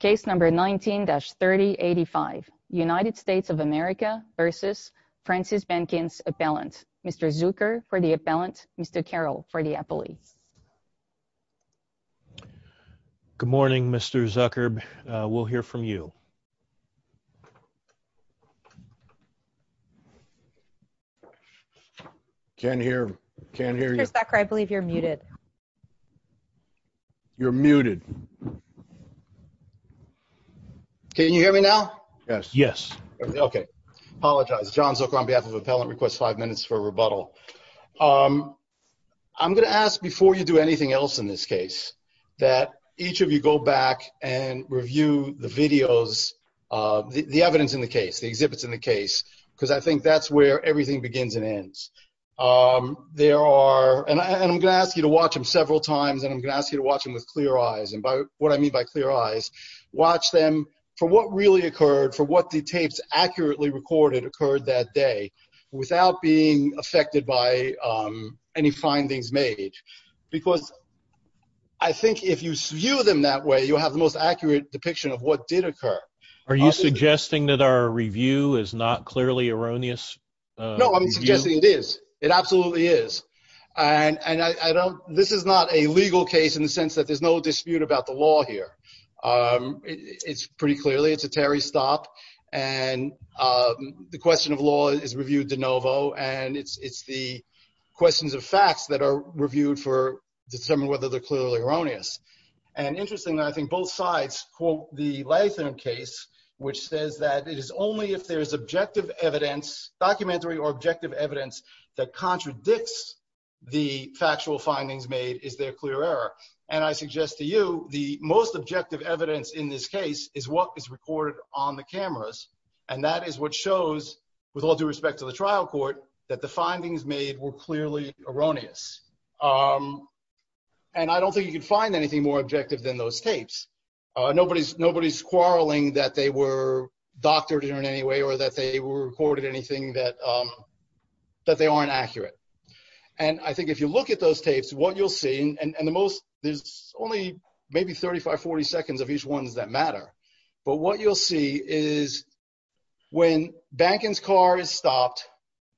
Case number 19-3085 United States of America versus Francis Bankins appellant. Mr. Zucker for the appellant, Mr. Carroll for the appellate. Good morning Mr. Zucker. We'll hear from you. Can't hear, can't hear you. Mr. Zucker, I believe you're muted. You're muted. Can you hear me now? Yes. Yes. Okay. Apologize. John Zucker on behalf of appellant requests five minutes for a rebuttal. I'm gonna ask before you do anything else in this case that each of you go back and review the videos, the evidence in the case, the exhibits in the case, because I think that's where everything begins and ends. There are, and I'm gonna ask you to watch them several times, and I'm gonna ask you to watch them with clear eyes, and by what I mean by clear eyes, watch them for what really occurred, for what the tapes accurately recorded occurred that day without being affected by any findings made. Because I think if you view them that way, you'll have the most accurate depiction of what did occur. Are you is not clearly erroneous? No, I'm suggesting it is. It absolutely is, and I don't, this is not a legal case in the sense that there's no dispute about the law here. It's pretty clearly, it's a Terry stop, and the question of law is reviewed de novo, and it's it's the questions of facts that are reviewed for determine whether they're clearly erroneous. And interestingly, I think both sides quote the Latham case, which says that it is only if there is objective evidence, documentary or objective evidence, that contradicts the factual findings made is there clear error. And I suggest to you, the most objective evidence in this case is what is recorded on the cameras, and that is what shows, with all due respect to the trial court, that the findings made were clearly erroneous. And I don't think you can find anything more objective than those tapes. Nobody's nobody's quarreling that they were doctored in any way, or that they were recorded anything that that they aren't accurate. And I think if you look at those tapes, what you'll see, and the most, there's only maybe 35-40 seconds of each ones that matter, but what you'll see is when Banken's car is stopped,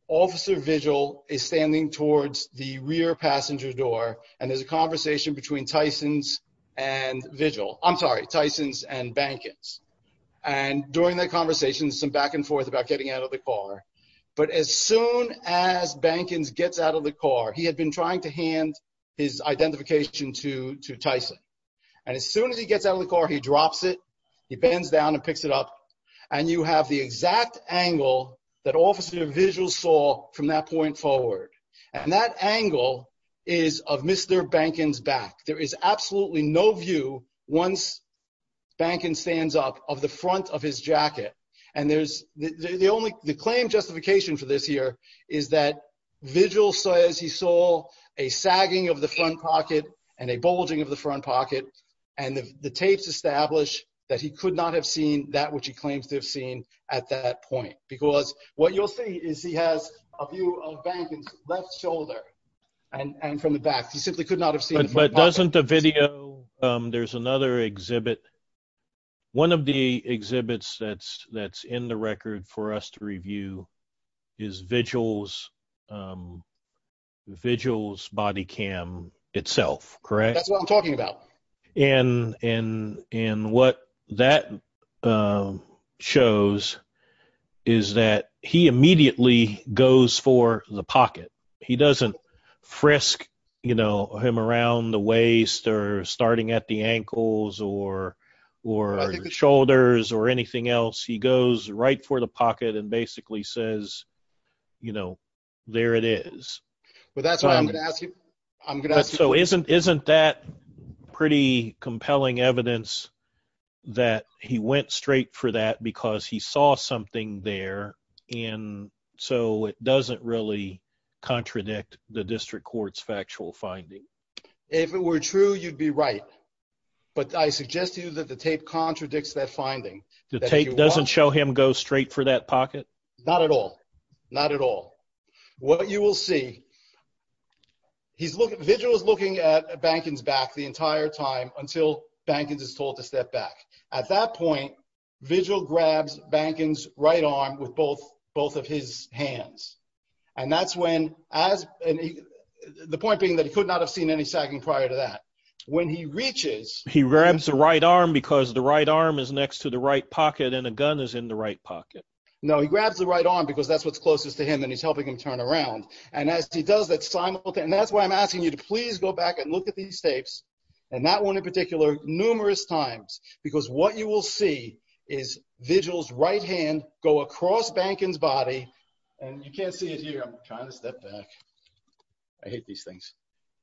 Officer Vigil is standing towards the rear passenger door, and there's a conversation between Tysons and Vigil, I'm sorry, Tysons and Bankens. And during that conversation, some back and forth about getting out of the car. But as soon as Bankens gets out of the car, he had been trying to hand his identification to Tyson. And as soon as he gets out of the car, he drops it, he bends down and picks it up, and you have the exact angle that Officer Vigil saw from that point forward. And that angle is of Mr. Bankens' back. There is absolutely no view, once Bankens stands up, of the front of his jacket. And there's, the only, the claim justification for this here, is that Vigil says he saw a sagging of the front pocket, and a bulging of the front pocket, and the tapes establish that he could not have seen that which he claims to have seen at that point. Because what you'll see is he has a view of Bankens' left shoulder, and from the back. He simply could not have seen the front pocket. But doesn't the video, there's another exhibit, one of the exhibits that's in the record for us to review, is Vigil's, Vigil's body cam itself, correct? That's what I'm talking about. And what that shows is that he immediately goes for the pocket. He doesn't frisk, you know, him around the waist, or starting at the ankles, or shoulders, or anything else. He goes right for the pocket and basically says, you know, there it is. But that's why I'm going to ask you, I'm going to ask you. So isn't, isn't that pretty compelling evidence that he went straight for that because he saw something there, and so it doesn't really contradict the District Court's factual finding? If it were true, you'd be right. But I suggest to you that the tape contradicts that finding. The tape doesn't show him go straight for that pocket? Not at all. Not at all. What you will see, he's looking, Vigil is looking at Bankens' back the entire time until Bankens is told to step back. At that point, Vigil grabs Bankens' right arm with both, both of his hands. And that's when, as, the point being that he could not have seen any sagging prior to that. When he reaches, he grabs the right arm because the right arm is next to the right pocket, and a gun is in the right pocket. No, he grabs the right arm because that's what's closest to him, and he's helping him turn around. And as he does that simultaneously, and that's why I'm asking you to please go back and look at these tapes, and that one in particular, numerous times, because what you will see is Vigil's right hand go across Bankens' body, and you can't see it here. I'm trying to step back. I hate these things.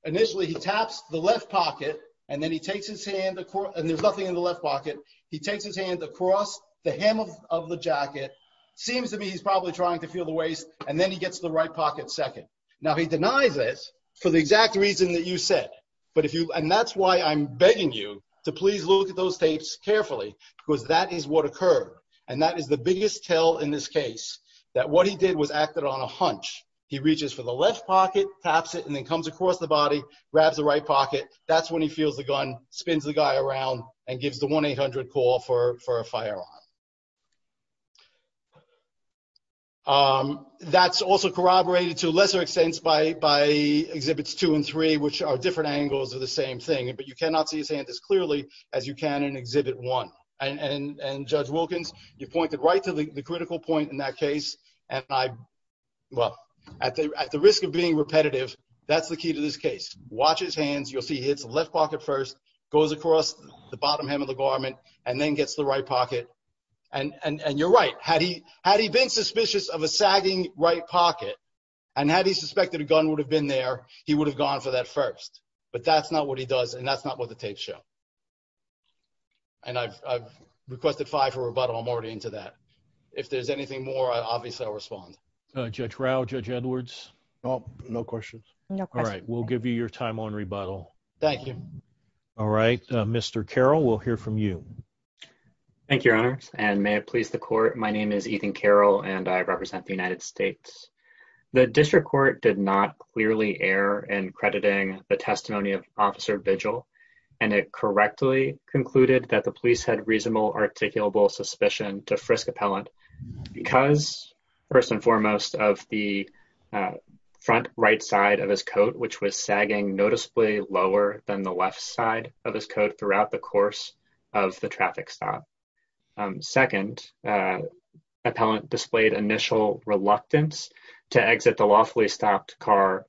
Initially, he taps the left pocket, and then he takes his hand, and there's nothing in the left pocket. He takes his hand across the hem of the jacket. Seems to me he's probably trying to feel the waist, and then he gets the right pocket second. Now, he denies this for the exact reason that you said, and that's why I'm begging you to please look at those tapes carefully, because that is what occurred, and that is the biggest tell in this case, that what he did was acted on a hunch. He reaches for the left pocket, taps it, and then comes across the body, grabs the right pocket. That's when he feels the gun, spins the guy around, and gives the 1-800 call for a firearm. That's also corroborated to a lesser extent by Exhibits 2 and 3, which are different angles of the same thing, but you cannot see his hand as clearly as you can in Exhibit 1, and Judge Wilkins, you pointed right to the critical point in that case, and I, well, at the risk of being repetitive, that's the key to this case. Watch his hands. You'll see he hits the left pocket first, goes across the bottom hem of the garment, and then gets the right pocket, and you're right. Had he been suspicious of a sagging right pocket, and had he suspected a gun would have been there, he would have gone for that first, but that's not what he does, and that's not what the tapes show, and I've requested five for rebuttal. I'm already into that. If there's anything more, obviously, I'll respond. Judge Rauh, Judge Edwards? Oh, no questions. All right, we'll give you your time on rebuttal. Thank you. All right, Mr. Carroll, we'll hear from you. Thank you, Your Honors, and may it please the Court. My name is Ethan Carroll, and I represent the United States. The District Court did not clearly err in crediting the testimony of Officer Vigil, and it correctly concluded that the police had reasonable articulable suspicion to Frisco Pellant because, first and foremost, of the front right side of his coat, which was sagging noticeably lower than the left side of his coat throughout the course of the traffic stop. Second, Appellant displayed initial reluctance to exit the lawfully stopped car.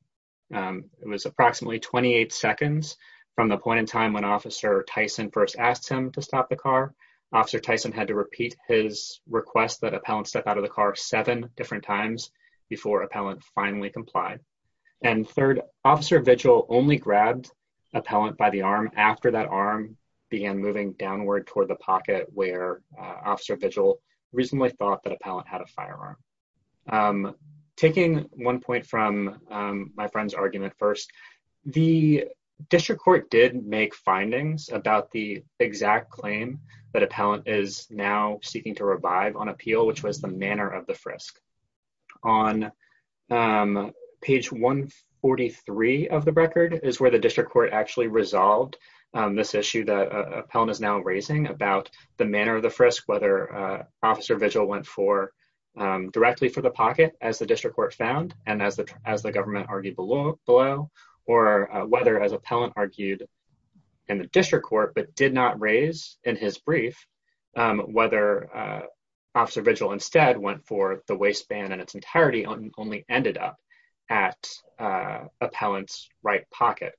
It was approximately 28 seconds from the point in time when Officer Tyson first asked him to stop the car. Officer Tyson had to repeat his request that Appellant step out of the car seven different times before Appellant finally complied. And third, Officer Vigil only grabbed Appellant by the arm after that arm began moving downward toward the pocket where Officer Vigil reasonably thought that Appellant had a firearm. Taking one point from my friend's argument first, the District Court did make findings about the exact claim that Appellant is now seeking to revive on appeal, which was the of the frisk. On page 143 of the record is where the District Court actually resolved this issue that Appellant is now raising about the manner of the frisk, whether Officer Vigil went for directly for the pocket, as the District Court found, and as the government argued below, or whether, as Appellant argued in the District Court but did not raise in his brief, whether Officer Vigil instead went for the waistband in its entirety and only ended up at Appellant's right pocket.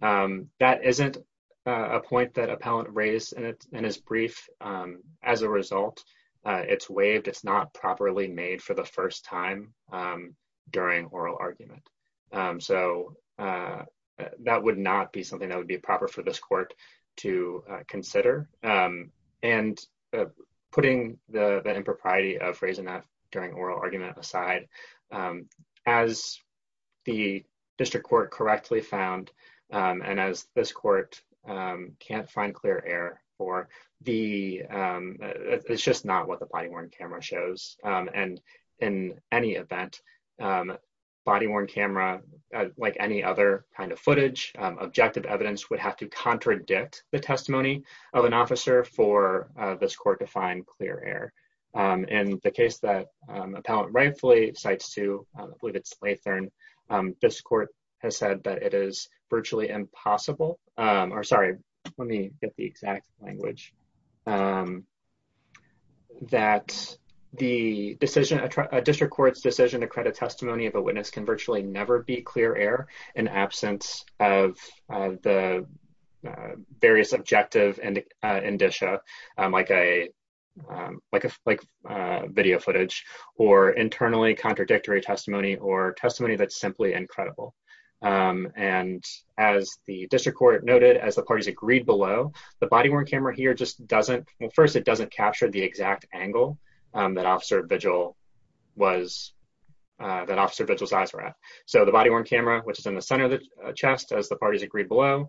That isn't a point that Appellant raised in his brief. As a result, it's waived. It's not properly made for the first time during oral argument. So that would not be something that would be proper for this court to consider. Putting the impropriety of raising that during oral argument aside, as the District Court correctly found, and as this court can't find clear error for, it's just not what the body-worn camera shows. In any event, body-worn camera, like any other kind of footage, objective evidence would have to contradict the testimony of an officer for this court to find clear error. In the case that Appellant rightfully cites to, I believe it's Lathurn, this court has said that it is virtually impossible, or sorry, let me get the exact language, that the decision, a District Court's decision to credit testimony of a witness can virtually never be clear error in absence of the various objective indicia, like video footage, or internally contradictory testimony, or testimony that's simply incredible. As the District Court noted, as the parties agreed below, the body-worn camera just doesn't, well first it doesn't capture the exact angle that Officer Vigil was, that Officer Vigil's eyes were at. So the body-worn camera, which is in the center of the chest, as the parties agreed below,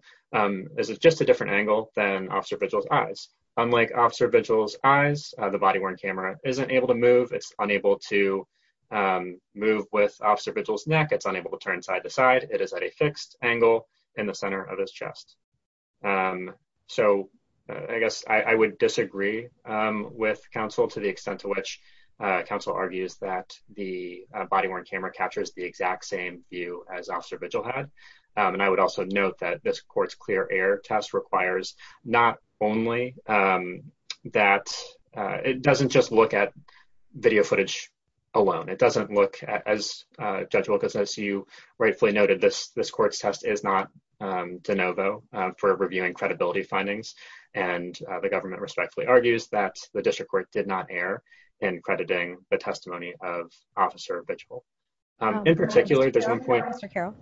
is just a different angle than Officer Vigil's eyes. Unlike Officer Vigil's eyes, the body-worn camera isn't able to move, it's unable to move with Officer Vigil's neck, it's unable to turn side to side, it is at a fixed angle in the center of his chest. So I guess I would disagree with counsel to the extent to which counsel argues that the body-worn camera captures the exact same view as Officer Vigil had, and I would also note that this court's clear error test requires not only that, it doesn't just look at video footage alone, it doesn't look as judgeable, because as you rightfully noted, this court's test is not de novo for reviewing credibility findings, and the government respectfully argues that the district court did not err in crediting the testimony of Officer Vigil. In particular, there's one point- Mr. Carroll,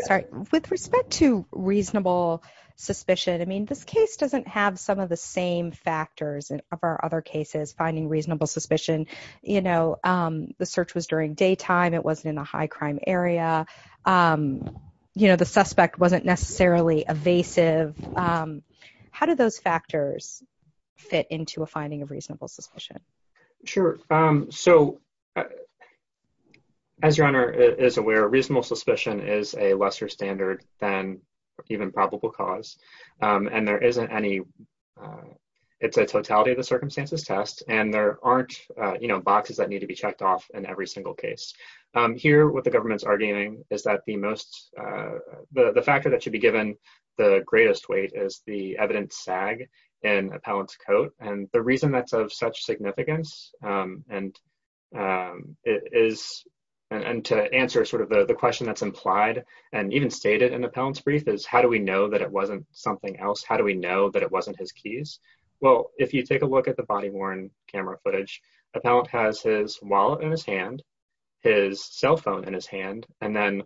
sorry, with respect to reasonable suspicion, I mean this case doesn't have some of the same factors of our other cases, finding reasonable suspicion, you know, the search was during daytime, it wasn't in a high crime area, you know, the suspect wasn't necessarily evasive, how do those factors fit into a finding of reasonable suspicion? Sure, so as your Honor is aware, reasonable suspicion is a lesser standard than even probable cause, and there isn't any, it's a totality of the circumstances test, and there every single case. Here, what the government's arguing is that the most, the factor that should be given the greatest weight is the evidence sag in Appellant's coat, and the reason that's of such significance, and it is, and to answer sort of the question that's implied, and even stated in Appellant's brief, is how do we know that it wasn't something else, how do we know that it wasn't his wallet in his hand, his cell phone in his hand, and then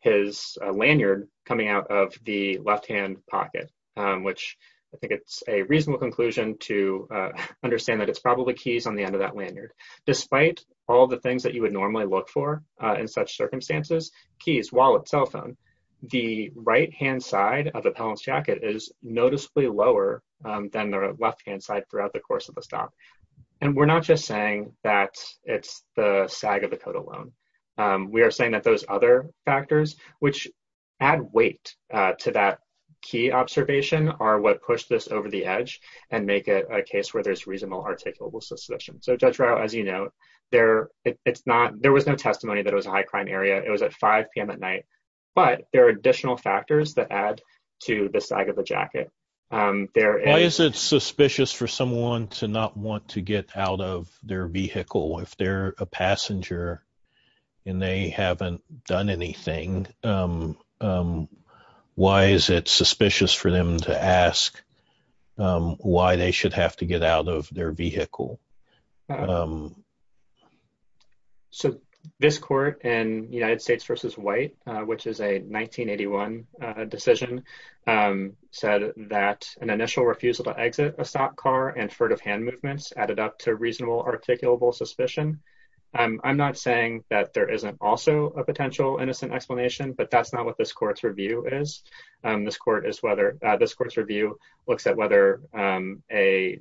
his lanyard coming out of the left-hand pocket, which I think it's a reasonable conclusion to understand that it's probably keys on the end of that lanyard. Despite all the things that you would normally look for in such circumstances, keys, wallet, cell phone, the right-hand side of Appellant's jacket is noticeably lower than the left-hand side throughout the course of the stop, and we're not just saying that it's the sag of the coat alone. We are saying that those other factors, which add weight to that key observation, are what push this over the edge and make it a case where there's reasonable articulable suspicion. So Judge Rao, as you know, there, it's not, there was no testimony that it was a high crime area. It was at 5 p.m. at night, but there are additional factors that add to the sag of the coat. Is it suspicious for someone to not want to get out of their vehicle if they're a passenger and they haven't done anything? Why is it suspicious for them to ask why they should have to get out of their vehicle? So this court in United States v. White, which is a 1981 decision, said that an initial refusal to exit a stopped car and furtive hand movements added up to reasonable articulable suspicion. I'm not saying that there isn't also a potential innocent explanation, but that's not what this court's review is. This court is whether, this court's review looks at whether a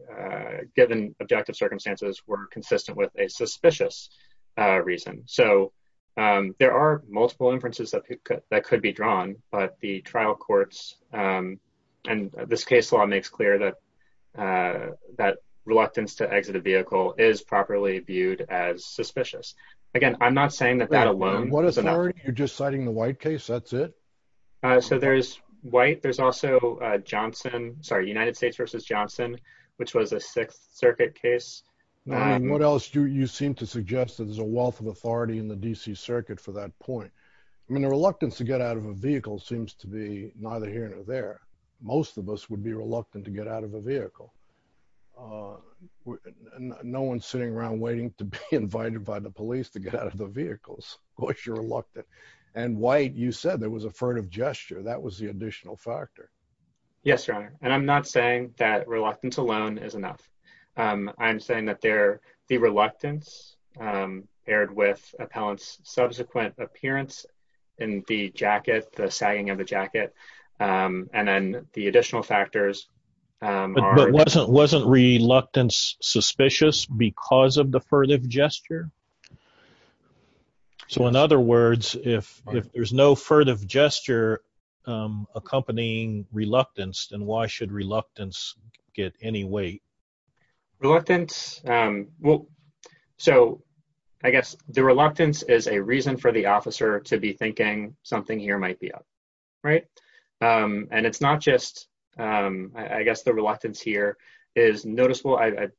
given objective circumstances were consistent with a suspicious reason. So there are multiple inferences that could be drawn, but the trial courts, and this case law makes clear that reluctance to exit a vehicle is properly viewed as suspicious. Again, I'm not saying that that alone is enough. What authority? You're just citing the White case, that's it? So there's White. There's also Johnson, sorry, United States v. Johnson, which was a Sixth Circuit case. What else do you seem to suggest that there's a wealth of authority in the D.C. Circuit for that point? I mean, the reluctance to get out of a vehicle seems to be neither here nor there. Most of us would be reluctant to get out of a vehicle. No one's sitting around waiting to be invited by the police to get out of the vehicles. Of course, you're reluctant. And White, you said there was a furtive gesture. That was the additional factor. Yes, Your Honor. And I'm not saying that reluctance alone is enough. I'm saying that the reluctance paired with subsequent appearance in the jacket, the sagging of the jacket, and then the additional factors. But wasn't reluctance suspicious because of the furtive gesture? So in other words, if there's no furtive gesture accompanying reluctance, then why should reluctance get any weight? Reluctance. Well, so I guess the reluctance is a reason for the officer to be thinking something here might be up. Right. And it's not just, I guess, the reluctance here is noticeable. I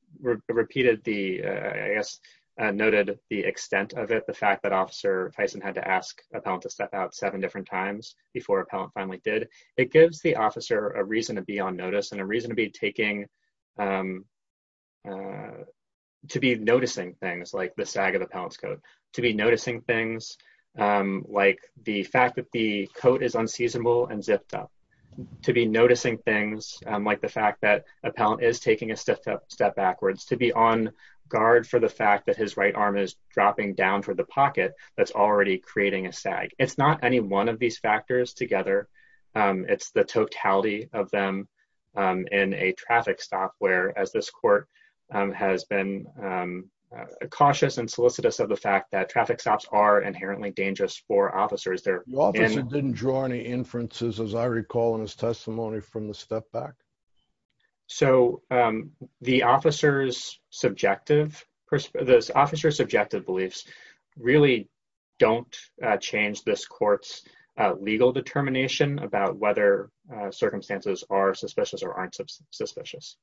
repeated the, I guess, noted the extent of it, the fact that Officer Tyson had to ask appellant to step out seven different times before appellant finally did. It gives the officer a reason to be on notice and a reason to be noticing things like the sag of the appellant's coat, to be noticing things like the fact that the coat is unseasonable and zipped up, to be noticing things like the fact that appellant is taking a step backwards, to be on guard for the fact that his right arm is dropping down toward the pocket that's already creating a together. It's the totality of them in a traffic stop where as this court has been cautious and solicitous of the fact that traffic stops are inherently dangerous for officers. The officer didn't draw any inferences as I recall in his testimony from the step back. So the officer's subjective, the officer's subjective beliefs really don't change this legal determination about whether circumstances are suspicious or aren't suspicious.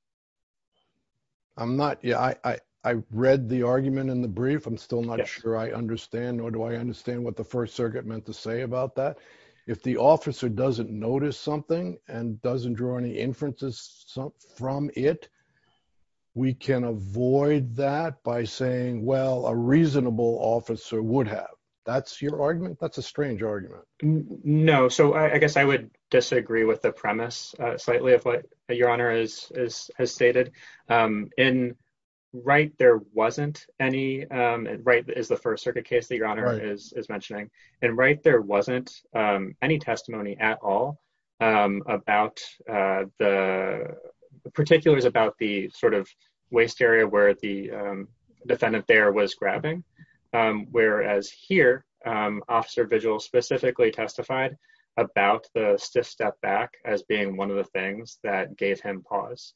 I'm not, yeah, I read the argument in the brief. I'm still not sure I understand, nor do I understand what the First Circuit meant to say about that. If the officer doesn't notice something and doesn't draw any inferences from it, we can avoid that by saying, well, a reasonable officer would have. That's your argument? That's strange argument. No. So I guess I would disagree with the premise slightly of what your Honor has stated. In Wright, there wasn't any, Wright is the First Circuit case that your Honor is mentioning. In Wright, there wasn't any testimony at all about the, particularly about the sort of testified about the stiff step back as being one of the things that gave him pause.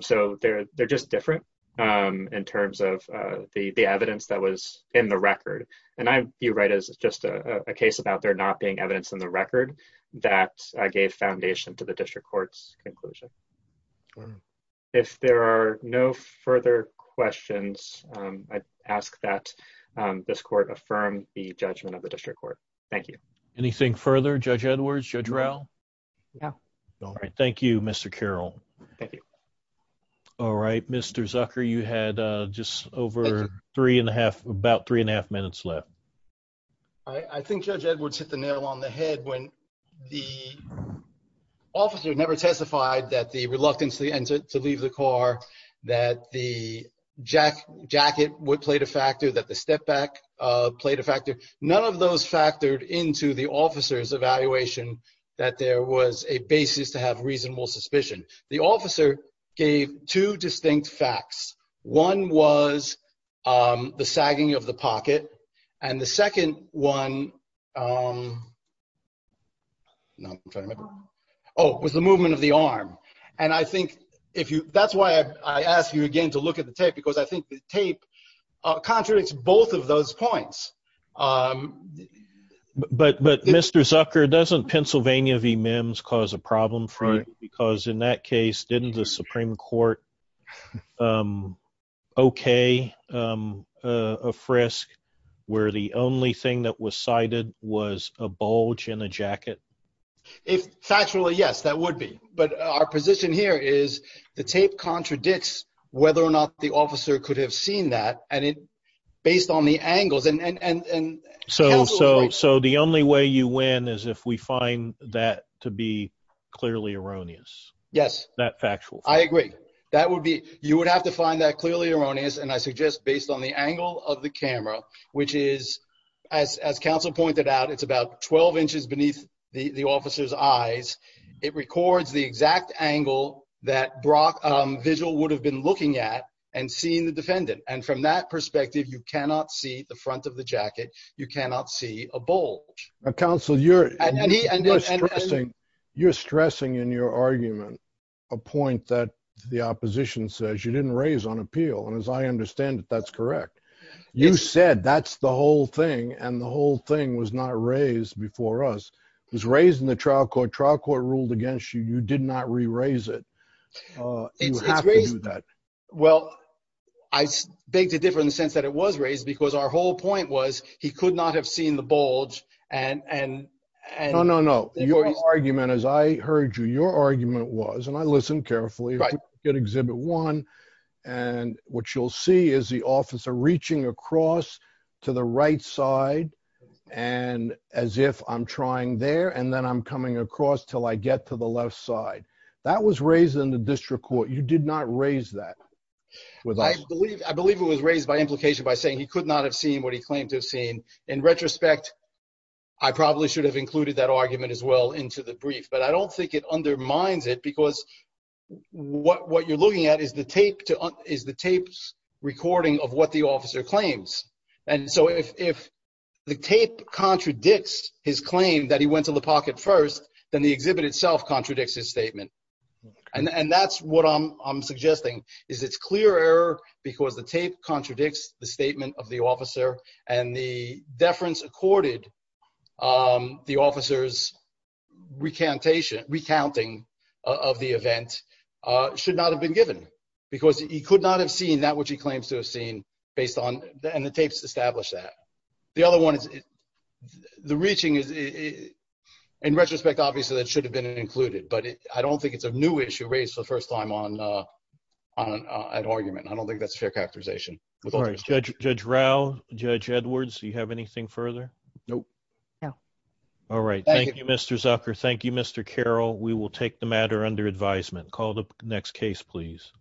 So they're just different in terms of the evidence that was in the record. And I view Wright as just a case about there not being evidence in the record that gave foundation to the District Court's conclusion. If there are no further questions, I'd ask that this Court. Thank you. Anything further, Judge Edwards, Judge Rowe? No. All right. Thank you, Mr. Carroll. Thank you. All right. Mr. Zucker, you had just over three and a half, about three and a half minutes left. I think Judge Edwards hit the nail on the head when the officer never testified that the reluctance to leave the car, that the jacket played a factor, that the step back played a factor. None of those factored into the officer's evaluation that there was a basis to have reasonable suspicion. The officer gave two distinct facts. One was the sagging of the pocket. And the second one, no, I'm trying to remember. Oh, it was the movement of the arm. And I think if you, that's why I asked you again to look at the tape, because I think the tape contradicts both of those points. But, Mr. Zucker, doesn't Pennsylvania v. Mims cause a problem for you? Because in that case, didn't the Supreme Court okay a frisk where the only thing that was cited was a bulge in a jacket? If factually, yes, that would be. But our position is the tape contradicts whether or not the officer could have seen that based on the angles. So the only way you win is if we find that to be clearly erroneous? Yes. That factual. I agree. That would be, you would have to find that clearly erroneous. And I suggest based on the angle of the camera, which is, as counsel pointed out, it's about 12 inches beneath the officer's eyes. It records the exact angle that Brock Vigil would have been looking at and seeing the defendant. And from that perspective, you cannot see the front of the jacket. You cannot see a bulge. Now, counsel, you're stressing in your argument a point that the opposition says you didn't raise on appeal. And as I understand it, that's correct. You said that's the whole thing. And the whole thing was not raised before us. It was raised in the trial court. Trial court ruled against you. You did not re-raise it. You have to do that. Well, I beg to differ in the sense that it was raised because our whole point was he could not have seen the bulge. No, no, no. Your argument, as I heard you, your argument was, and I listened carefully, exhibit one. And what you'll see is the officer reaching across to the right side and as if I'm trying there, and then I'm coming across till I get to the left side. That was raised in the district court. You did not raise that. I believe it was raised by implication by saying he could not have seen what he claimed to have seen. In retrospect, I probably should have included that argument as well into the brief, but I don't think it undermines it because what you're looking at is the tape recording of what the officer claims. And so if the tape contradicts his claim that he went to the pocket first, then the exhibit itself contradicts his statement. And that's what I'm suggesting, is it's clear error because the tape contradicts the statement of the officer and the deference accorded the officer's recounting of the event should not have been given because he could not have seen that which he claims to have seen based on, and the tapes established that. The other one is the reaching is, in retrospect, obviously that should have been included, but I don't think it's a new issue raised for the first time on an argument. I don't think that's a new issue. Thank you, Mr. Zucker. Thank you, Mr. Carroll. We will take the matter under advisement. Call the next case, please.